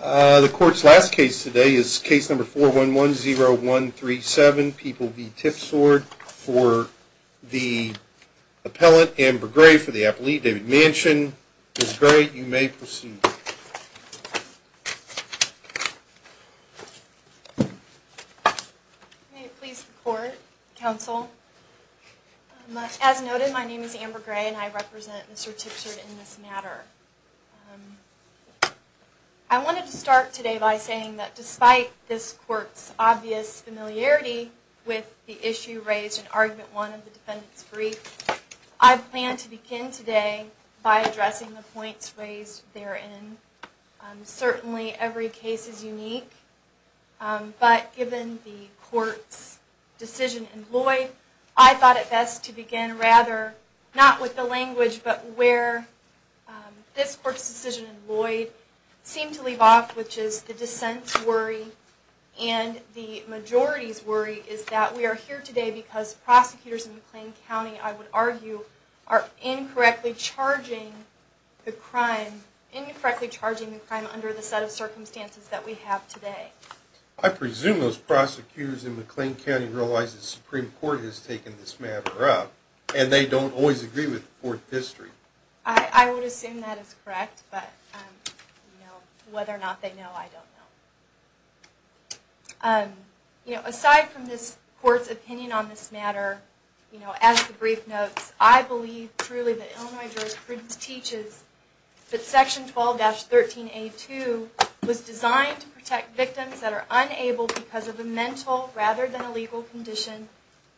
The court's last case today is case number 4110137, People v. Tipsord, for the appellate Amber Gray for the appellate David Manchin. Ms. Gray, you may proceed. May it please the court, counsel. As noted, my name is Amber Gray and I represent Mr. Tipsord in this matter. I wanted to start today by saying that despite this court's obvious familiarity with the issue raised in argument one of the defendant's brief, I plan to begin today by addressing the points raised therein. Certainly every case is unique, but given the court's decision in Lloyd, I thought it best to begin rather, not with the language, but where this court's decision in Lloyd seemed to leave off, which is the dissent's worry and the majority's worry is that we are here today because prosecutors in McLean County, I would argue, are incorrectly charging the crime, incorrectly charging the crime under the set of circumstances that we have today. I presume those prosecutors in McLean County realize the Supreme Court has taken this matter up and they don't always agree with the court's history. I would assume that is correct, but whether or not they know, I don't know. Aside from this court's opinion on this matter, as the brief notes, I believe truly that Illinois jurors' prudence teaches that Section 12-13A2 was designed to protect victims that are unable because of a mental rather than a legal condition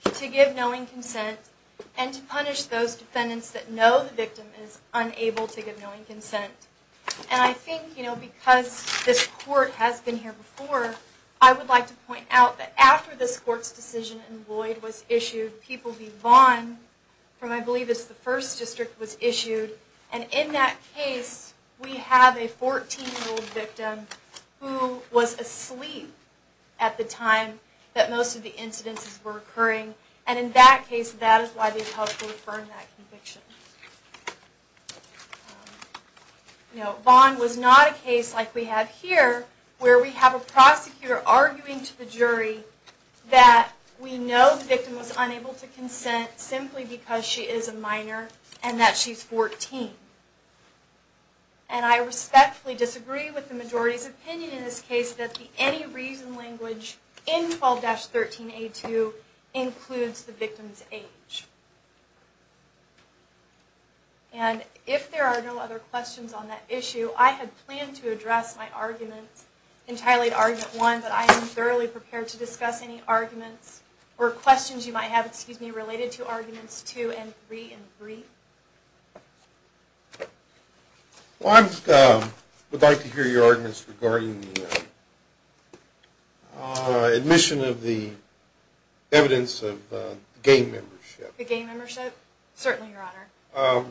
to give knowing consent and to punish those defendants that know the victim is unable to give knowing consent. And I think, you know, because this court has been here before, I would like to point out that after this court's decision in Lloyd was issued, People v. Vaughn, from I believe it's the 1st District, was issued, and in that case, we have a 14-year-old victim who was asleep at the time that most of the incidences were occurring, and in that case, that is why they've helped to affirm that conviction. Vaughn was not a case like we have here, where we have a prosecutor arguing to the jury that we know the victim was unable to consent simply because she is a minor and that she's 14. And I respectfully disagree with the majority's opinion in this case that the any reason language in 12-13A2 includes the victim's age. And if there are no other questions on that issue, I had planned to address my arguments entirely in Argument 1, but I am thoroughly prepared to discuss any arguments or questions you might have, excuse me, related to Arguments 2 and 3 and 3. Well, I would like to hear your arguments regarding the admission of the evidence of gang membership. The gang membership? Certainly, Your Honor.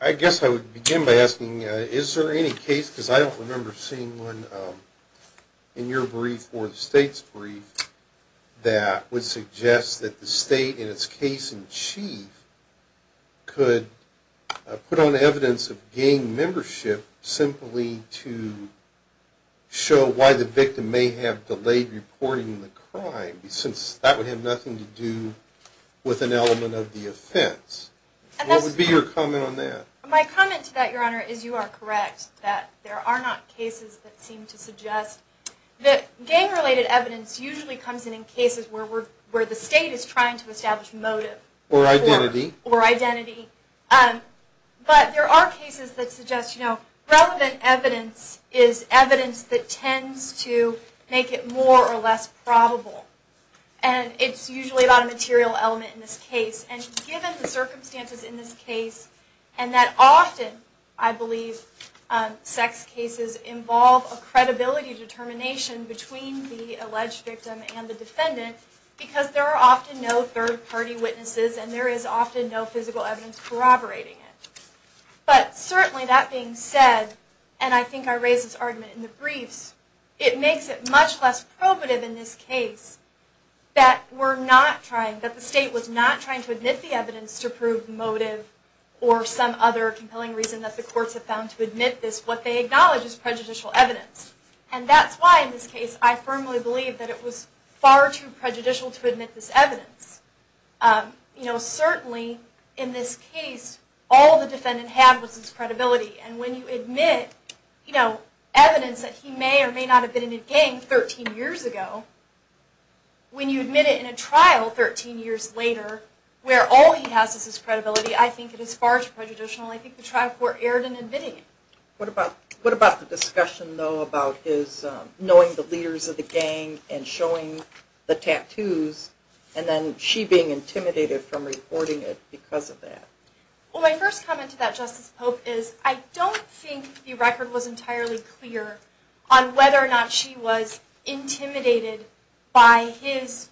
I guess I would begin by asking, is there any case, because I don't remember seeing one in your brief or the State's brief, that would suggest that the State, in its case in chief, could put on evidence of gang membership simply to show why the victim may have delayed reporting the crime, since that would have nothing to do with an element of the offense. What would be your comment on that? My comment to that, Your Honor, is you are correct that there are not cases that seem to suggest that gang-related evidence usually comes in in cases where the State is trying to establish motive. Or identity. Or identity. But there are cases that suggest, you know, relevant evidence is evidence that tends to make it more or less probable. And it's usually about a material element in this case. And given the circumstances in this case, and that often, I believe, sex cases involve a credibility determination between the alleged victim and the defendant, because there are often no third-party witnesses and there is often no physical evidence corroborating it. But certainly that being said, and I think I raised this argument in the briefs, it makes it much less probative in this case that we're not trying, that the State was not trying to admit the evidence to prove motive or some other compelling reason that the courts have found to admit this, what they acknowledge is prejudicial evidence. And that's why in this case I firmly believe that it was far too prejudicial to admit this evidence. You know, certainly in this case, all the defendant had was his credibility. And when you admit, you know, evidence that he may or may not have been in a gang 13 years ago, when you admit it in a trial 13 years later, where all he has is his credibility, I think it is far too prejudicial and I think the trial court erred in admitting it. What about the discussion, though, about his knowing the leaders of the gang and showing the tattoos and then she being intimidated from reporting it because of that? Well, my first comment to that, Justice Pope, is I don't think the record was entirely clear on whether or not she was intimidated by his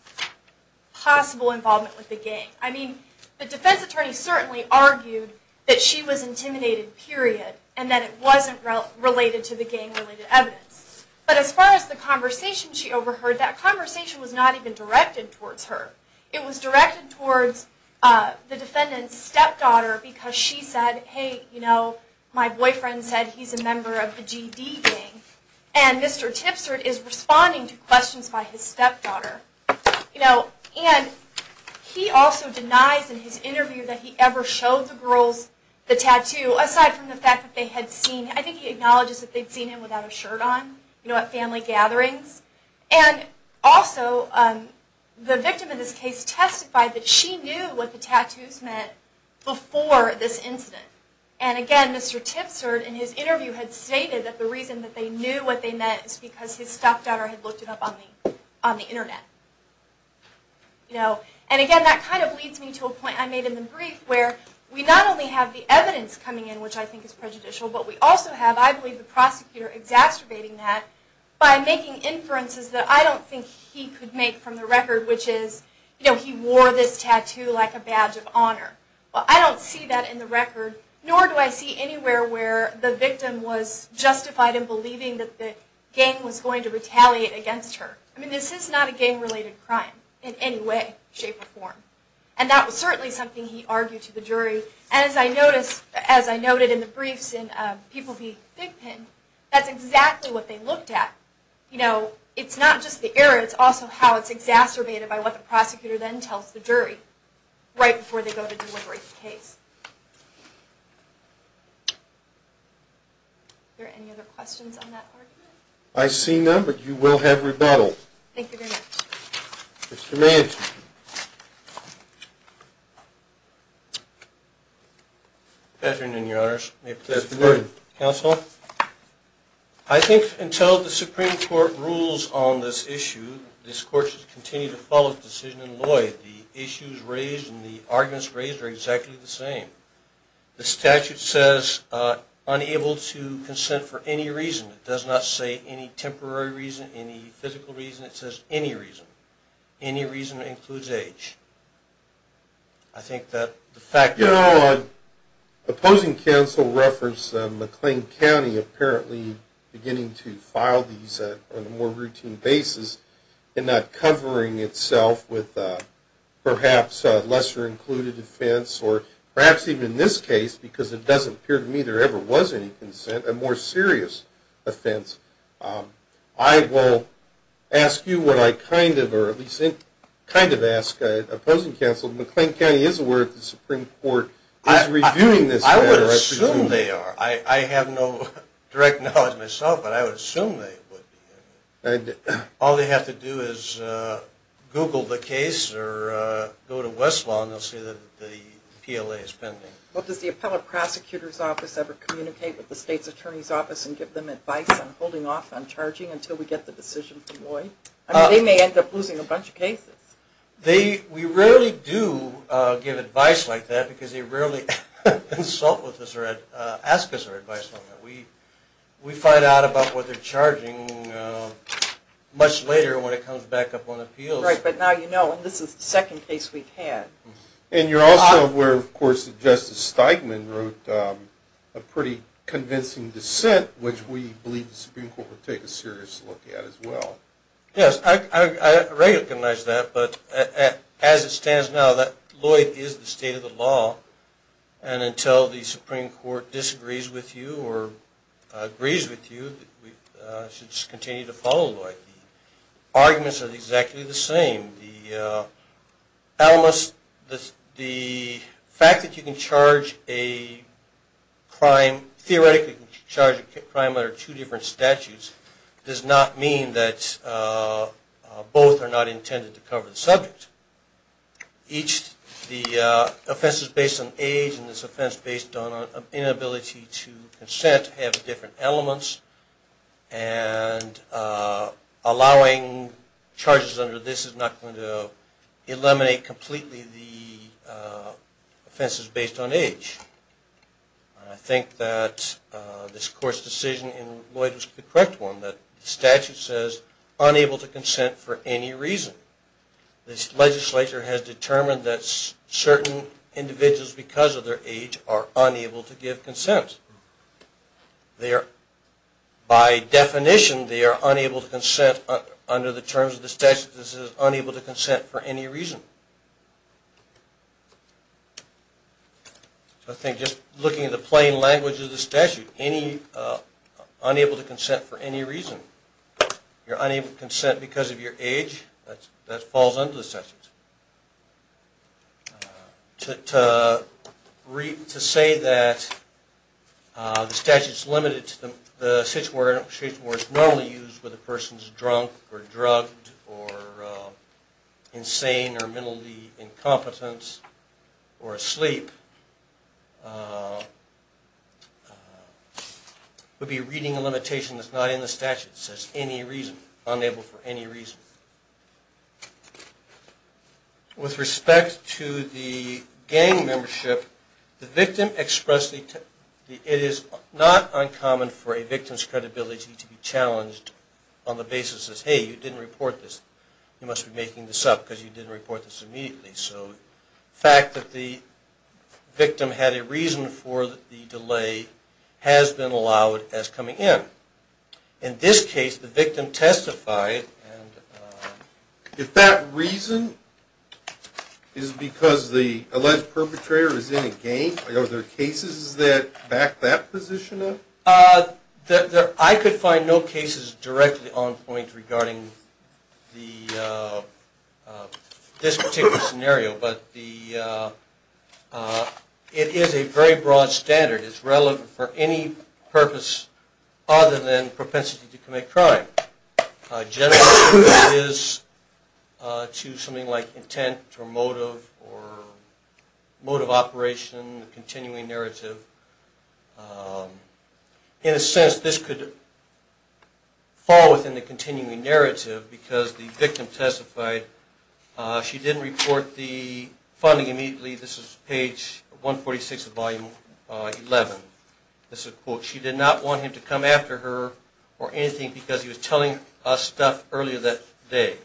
possible involvement with the gang. I mean, the defense attorney certainly argued that she was intimidated, period, and that it wasn't related to the gang-related evidence. But as far as the conversation she overheard, that conversation was not even directed towards her. It was directed towards the defendant's stepdaughter because she said, hey, you know, my boyfriend said he's a member of the GD gang, and Mr. Tipsert is responding to questions by his stepdaughter. And he also denies in his interview that he ever showed the girls the tattoo, aside from the fact that they had seen it. I think he acknowledges that they'd seen it without a shirt on, you know, at family gatherings. And also, the victim in this case testified that she knew what the tattoos meant before this incident. And again, Mr. Tipsert, in his interview, had stated that the reason that they knew what they meant was because his stepdaughter had looked it up on the Internet. And again, that kind of leads me to a point I made in the brief where we not only have the evidence coming in, which I think is prejudicial, but we also have, I believe, the prosecutor exacerbating that by making inferences that I don't think he could make from the record, which is, you know, he wore this tattoo like a badge of honor. Well, I don't see that in the record, nor do I see anywhere where the victim was justified in believing that the gang was going to retaliate against her. I mean, this is not a gang-related crime in any way, shape, or form. And that was certainly something he argued to the jury. And as I noticed, as I noted in the briefs in People v. Big Pin, that's exactly what they looked at. You know, it's not just the error, it's also how it's exacerbated by what the prosecutor then tells the jury right before they go to deliberate the case. Are there any other questions on that argument? I see none, but you will have rebuttal. Thank you very much. Mr. Manchin. Good afternoon, Your Honors. May it please the Court. Good afternoon. Counsel. I think until the Supreme Court rules on this issue, this Court should continue to follow the decision in Lloyd. The issues raised and the arguments raised are exactly the same. The statute says, unable to consent for any reason. It does not say any temporary reason, any physical reason. It says any reason. Any reason includes age. I think that the fact that... You know, opposing counsel referenced McLean County apparently beginning to file these on a more routine basis and not covering itself with perhaps a lesser included offense or perhaps even in this case, because it doesn't appear to me there ever was any consent, a more serious offense. I will ask you what I kind of, or at least kind of ask opposing counsel. McLean County is aware that the Supreme Court is reviewing this matter. I would assume they are. I have no direct knowledge myself, but I would assume they would. All they have to do is Google the case or go to Westlaw and they'll see that the PLA is pending. Well, does the appellate prosecutor's office ever communicate with the state's attorney's office and give them advice on holding off on charging until we get the decision from Lloyd? I mean, they may end up losing a bunch of cases. We rarely do give advice like that because they rarely consult with us or ask us for advice on that. We find out about what they're charging much later when it comes back up on appeals. Right, but now you know, and this is the second case we've had. And you're also aware, of course, that Justice Steigman wrote a pretty convincing dissent, which we believe the Supreme Court will take a serious look at as well. Yes, I recognize that. But as it stands now, Lloyd is the state of the law. And until the Supreme Court disagrees with you or agrees with you, we should continue to follow Lloyd. Arguments are exactly the same. The fact that you can charge a crime, theoretically charge a crime under two different statutes, does not mean that both are not intended to cover the subject. Each of the offenses based on age and this offense based on inability to consent have different elements. And allowing charges under this is not going to eliminate completely the offenses based on age. I think that this Court's decision in Lloyd was the correct one, that the statute says unable to consent for any reason. This legislature has determined that certain individuals because of their age are unable to give consent. By definition, they are unable to consent under the terms of the statute that says unable to consent for any reason. I think just looking at the plain language of the statute, unable to consent for any reason, you're unable to consent because of your age, that falls under the statute. To say that the statute is limited to the situation where it's normally used where the person's drunk or drugged or insane or mentally incompetent or asleep, would be reading a limitation that's not in the statute that says any reason, unable for any reason. With respect to the gang membership, the victim expressed that it is not uncommon for a victim's credibility to be challenged on the basis that, hey, you didn't report this. You must be making this up because you didn't report this immediately. So the fact that the victim had a reason for the delay has been allowed as coming in. In this case, the victim testified. If that reason is because the alleged perpetrator is in a gang, are there cases that back that position up? I could find no cases directly on point regarding this particular scenario, but it is a very broad standard. It's relevant for any purpose other than propensity to commit crime. Generally, it is to something like intent or motive or mode of operation, the continuing narrative. In a sense, this could fall within the continuing narrative because the victim testified. She didn't report the funding immediately. This is page 146 of volume 11. This is a quote. She did not want him to come after her or anything because he was telling us stuff earlier that day.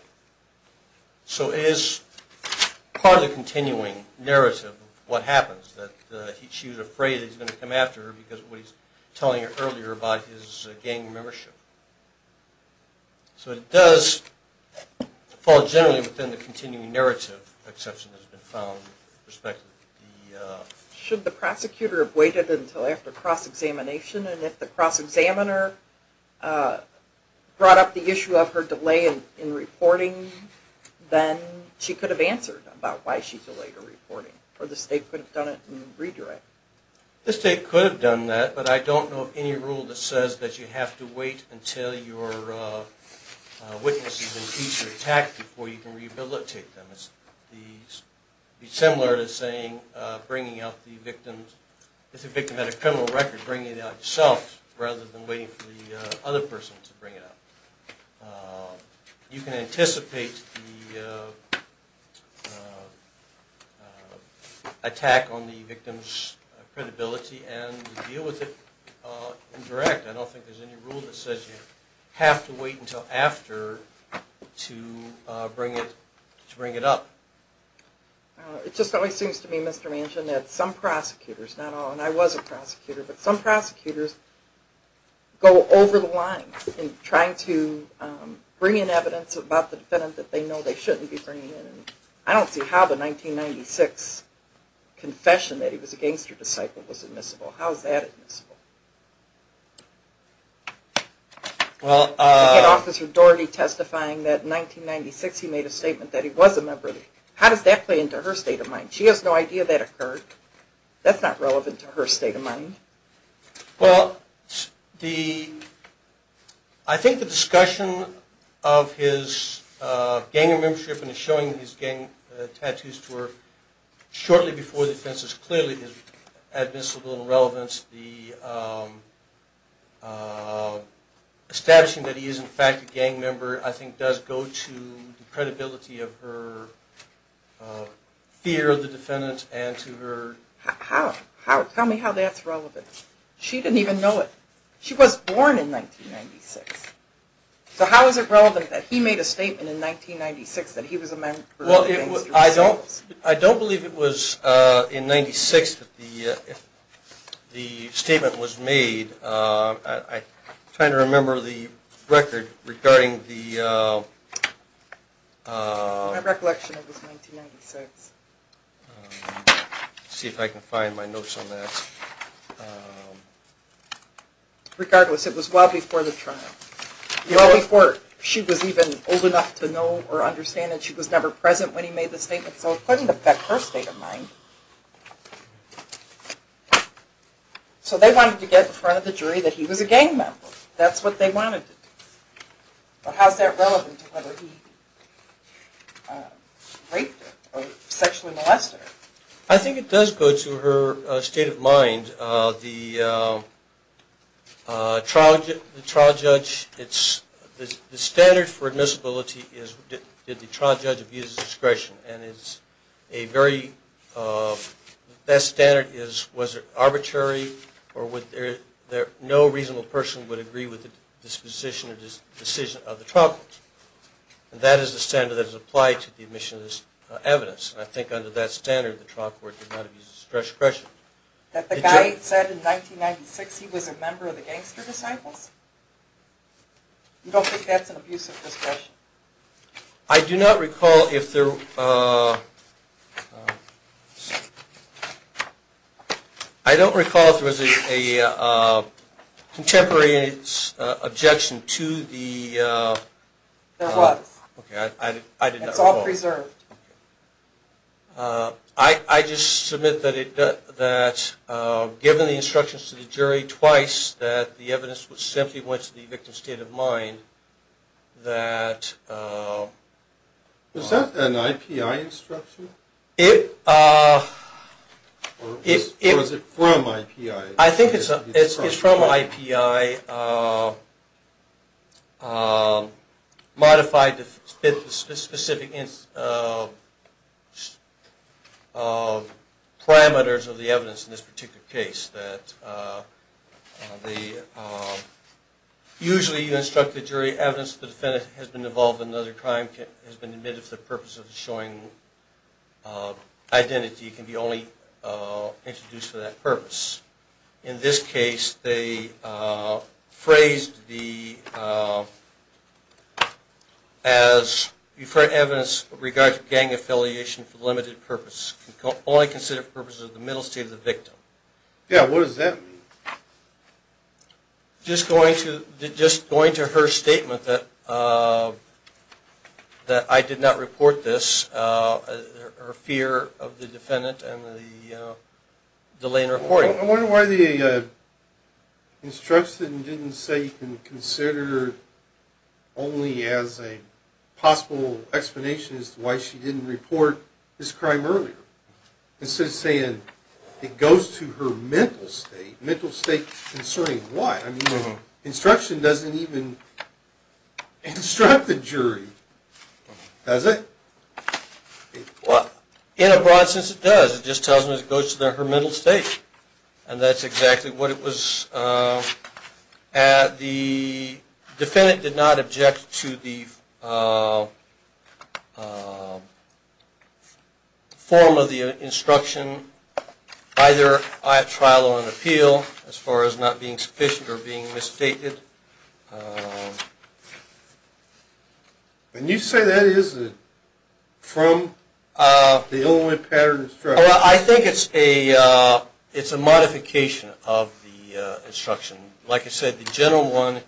So it is part of the continuing narrative of what happens, that she was afraid he was going to come after her because of what he was telling her earlier about his gang membership. So it does fall generally within the continuing narrative exception that has been found. Should the prosecutor have waited until after cross-examination? And if the cross-examiner brought up the issue of her delay in reporting, then she could have answered about why she delayed her reporting. Or the state could have done it and redirected it. The state could have done that, but I don't know of any rule that says that you have to wait until your witness has been beat or attacked before you can rehabilitate them. It would be similar to saying bringing out the victim. If the victim had a criminal record, bring it out yourself rather than waiting for the other person to bring it up. You can anticipate the attack on the victim's credibility and deal with it in direct. I don't think there's any rule that says you have to wait until after to bring it up. It just always seems to me, Mr. Manchin, that some prosecutors, not all, and I was a prosecutor, but some prosecutors go over the line in trying to bring in evidence about the defendant that they know they shouldn't be bringing in. I don't see how the 1996 confession that he was a gangster disciple was admissible. How is that admissible? You had Officer Dougherty testifying that in 1996 he made a statement that he was a member of the... How does that play into her state of mind? She has no idea that occurred. That's not relevant to her state of mind. Well, I think the discussion of his gang membership and showing his gang tattoos to her shortly before the defense is clearly admissible in relevance. Establishing that he is in fact a gang member I think does go to the credibility of her fear that he was a member of the gang. Tell me how that's relevant. She didn't even know it. She was born in 1996. So how is it relevant that he made a statement in 1996 that he was a member of the gang? I don't believe it was in 1996 that the statement was made. I'm trying to remember the record regarding the... In my recollection it was 1996. Let's see if I can find my notes on that. Regardless, it was well before the trial. Well before she was even old enough to know or understand that she was never present when he made the statement. So it couldn't affect her state of mind. So they wanted to get in front of the jury that he was a gang member. That's what they wanted. But how is that relevant to whether he raped her or sexually molested her? I think it does go to her state of mind. The trial judge... The standard for admissibility is did the trial judge abuse his discretion. And it's a very... That standard is was it arbitrary or would there... No reasonable person would agree with the disposition or decision of the trial judge. And that is the standard that is applied to the admission of this evidence. And I think under that standard the trial court did not abuse his discretion. That the guy said in 1996 he was a member of the Gangster Disciples? You don't think that's an abusive discretion? I do not recall if there... I don't recall if there was a contemporary objection to the... There was. I did not recall. It's all preserved. I just submit that given the instructions to the jury twice that the evidence simply went to the victim's state of mind. That... Was that an IPI instruction? Or was it from IPI? I think it's from IPI. Modified to fit the specific parameters of the evidence in this particular case. Usually you instruct the jury evidence that the defendant has been involved in another crime has been admitted for the purpose of showing identity can be only introduced for that purpose. In this case they phrased the... Because you've heard evidence with regard to gang affiliation for the limited purpose. Only considered for the purpose of the middle state of the victim. Yeah, what does that mean? Just going to her statement that I did not report this. Her fear of the defendant and the delay in reporting. I wonder why the instruction didn't say you can consider only as a possible explanation as to why she didn't report this crime earlier. Instead of saying it goes to her mental state. Mental state concerning what? Instruction doesn't even instruct the jury. Does it? In a broad sense it does. It just tells me it goes to her mental state. And that's exactly what it was. The defendant did not object to the form of the instruction. Either I have trial or an appeal as far as not being sufficient or being misstated. And you say that isn't it? From the only pattern of instruction. I think it's a modification of the instruction. Like I said, the general one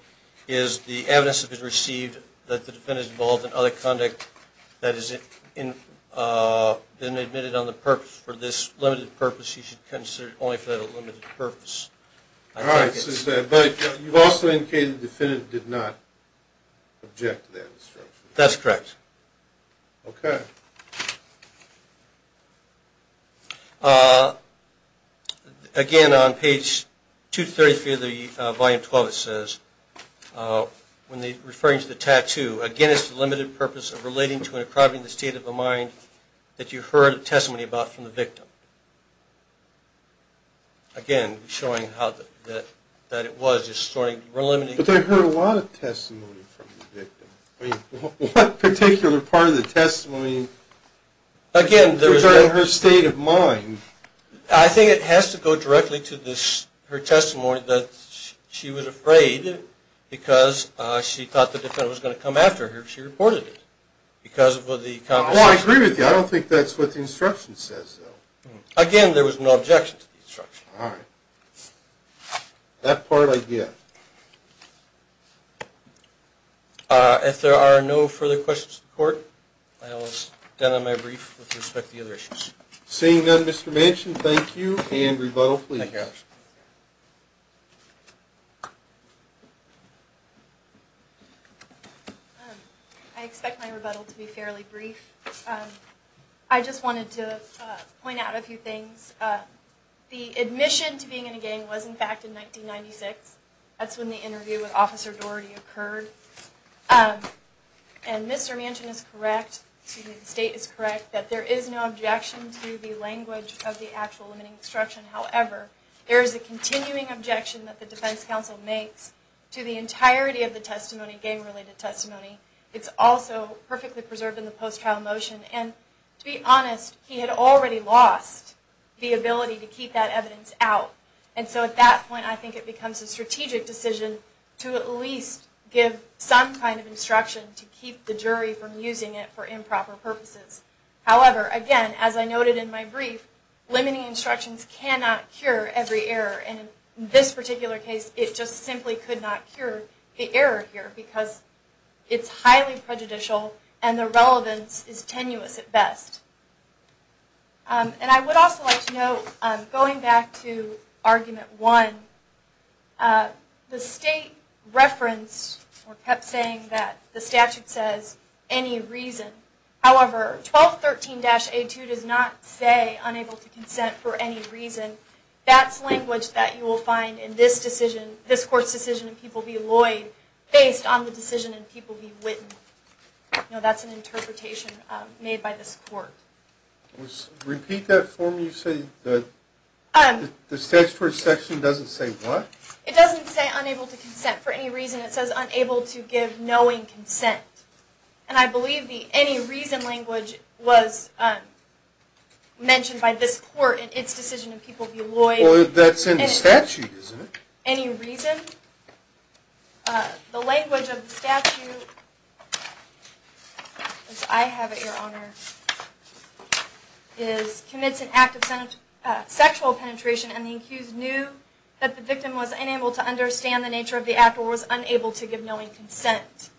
is the evidence that has been received that the defendant is involved in other conduct that has been admitted on the purpose. For this limited purpose you should consider only for that limited purpose. But you've also indicated the defendant did not object to that instruction. That's correct. Okay. Again on page 233 of the volume 12 it says, referring to the tattoo, again it's for the limited purpose of relating to and improving the state of the mind that you heard a testimony about from the victim. Again, showing how that it was. But they heard a lot of testimony from the victim. What particular part of the testimony? Again. Referring to her state of mind. I think it has to go directly to her testimony that she was afraid because she thought the defendant was going to come after her if she reported it. I agree with you. I don't think that's what the instruction says, though. Again, there was no objection to the instruction. All right. That part I get. If there are no further questions to the court, I will stand on my brief with respect to the other issues. Seeing none, Mr. Manchin, thank you. And rebuttal, please. Thank you. I expect my rebuttal to be fairly brief. I just wanted to point out a few things. The admission to being in a gang was, in fact, in 1996. That's when the interview with Officer Doherty occurred. And Mr. Manchin is correct, the state is correct, that there is no objection to the language of the actual limiting instruction. However, there is a continuing objection that the defense counsel makes to the entirety of the testimony, gang-related testimony. It's also perfectly preserved in the post-trial motion. And to be honest, he had already lost the ability to keep that evidence out. And so at that point, I think it becomes a strategic decision to at least give some kind of instruction to keep the jury from using it for improper purposes. However, again, as I noted in my brief, limiting instructions cannot cure every error. And in this particular case, it just simply could not cure the error here because it's highly prejudicial and the relevance is tenuous at best. And I would also like to note, going back to Argument 1, the state referenced or kept saying that the statute says any reason. However, 1213-A2 does not say unable to consent for any reason. That's language that you will find in this court's decision in People v. Lloyd based on the decision in People v. Witten. That's an interpretation made by this court. Repeat that for me. The statutory section doesn't say what? It doesn't say unable to consent for any reason. It says unable to give knowing consent. And I believe the any reason language was mentioned by this court in its decision in People v. Lloyd. Well, that's in the statute, isn't it? Any reason. The language of the statute, as I have it, Your Honor, is commits an act of sexual penetration and the accused knew that the victim was unable to understand the nature of the act or was unable to give knowing consent.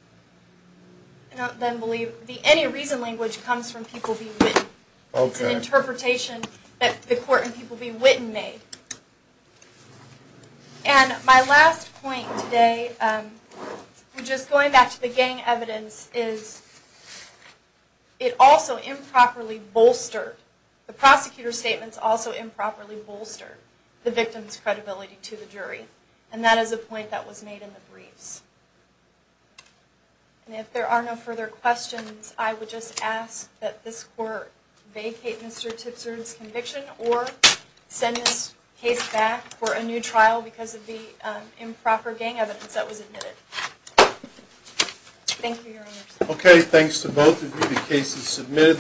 The any reason language comes from People v. Witten. It's an interpretation that the court in People v. Witten made. And my last point today, just going back to the gang evidence, is it also improperly bolstered, the prosecutor's statements also improperly bolstered, the victim's credibility to the jury. And that is a point that was made in the briefs. And if there are no further questions, I would just ask that this court vacate Mr. Tipser's conviction or send this case back for a new trial because of the improper gang evidence that was admitted. Thank you, Your Honor. Okay, thanks to both of you. The case is submitted.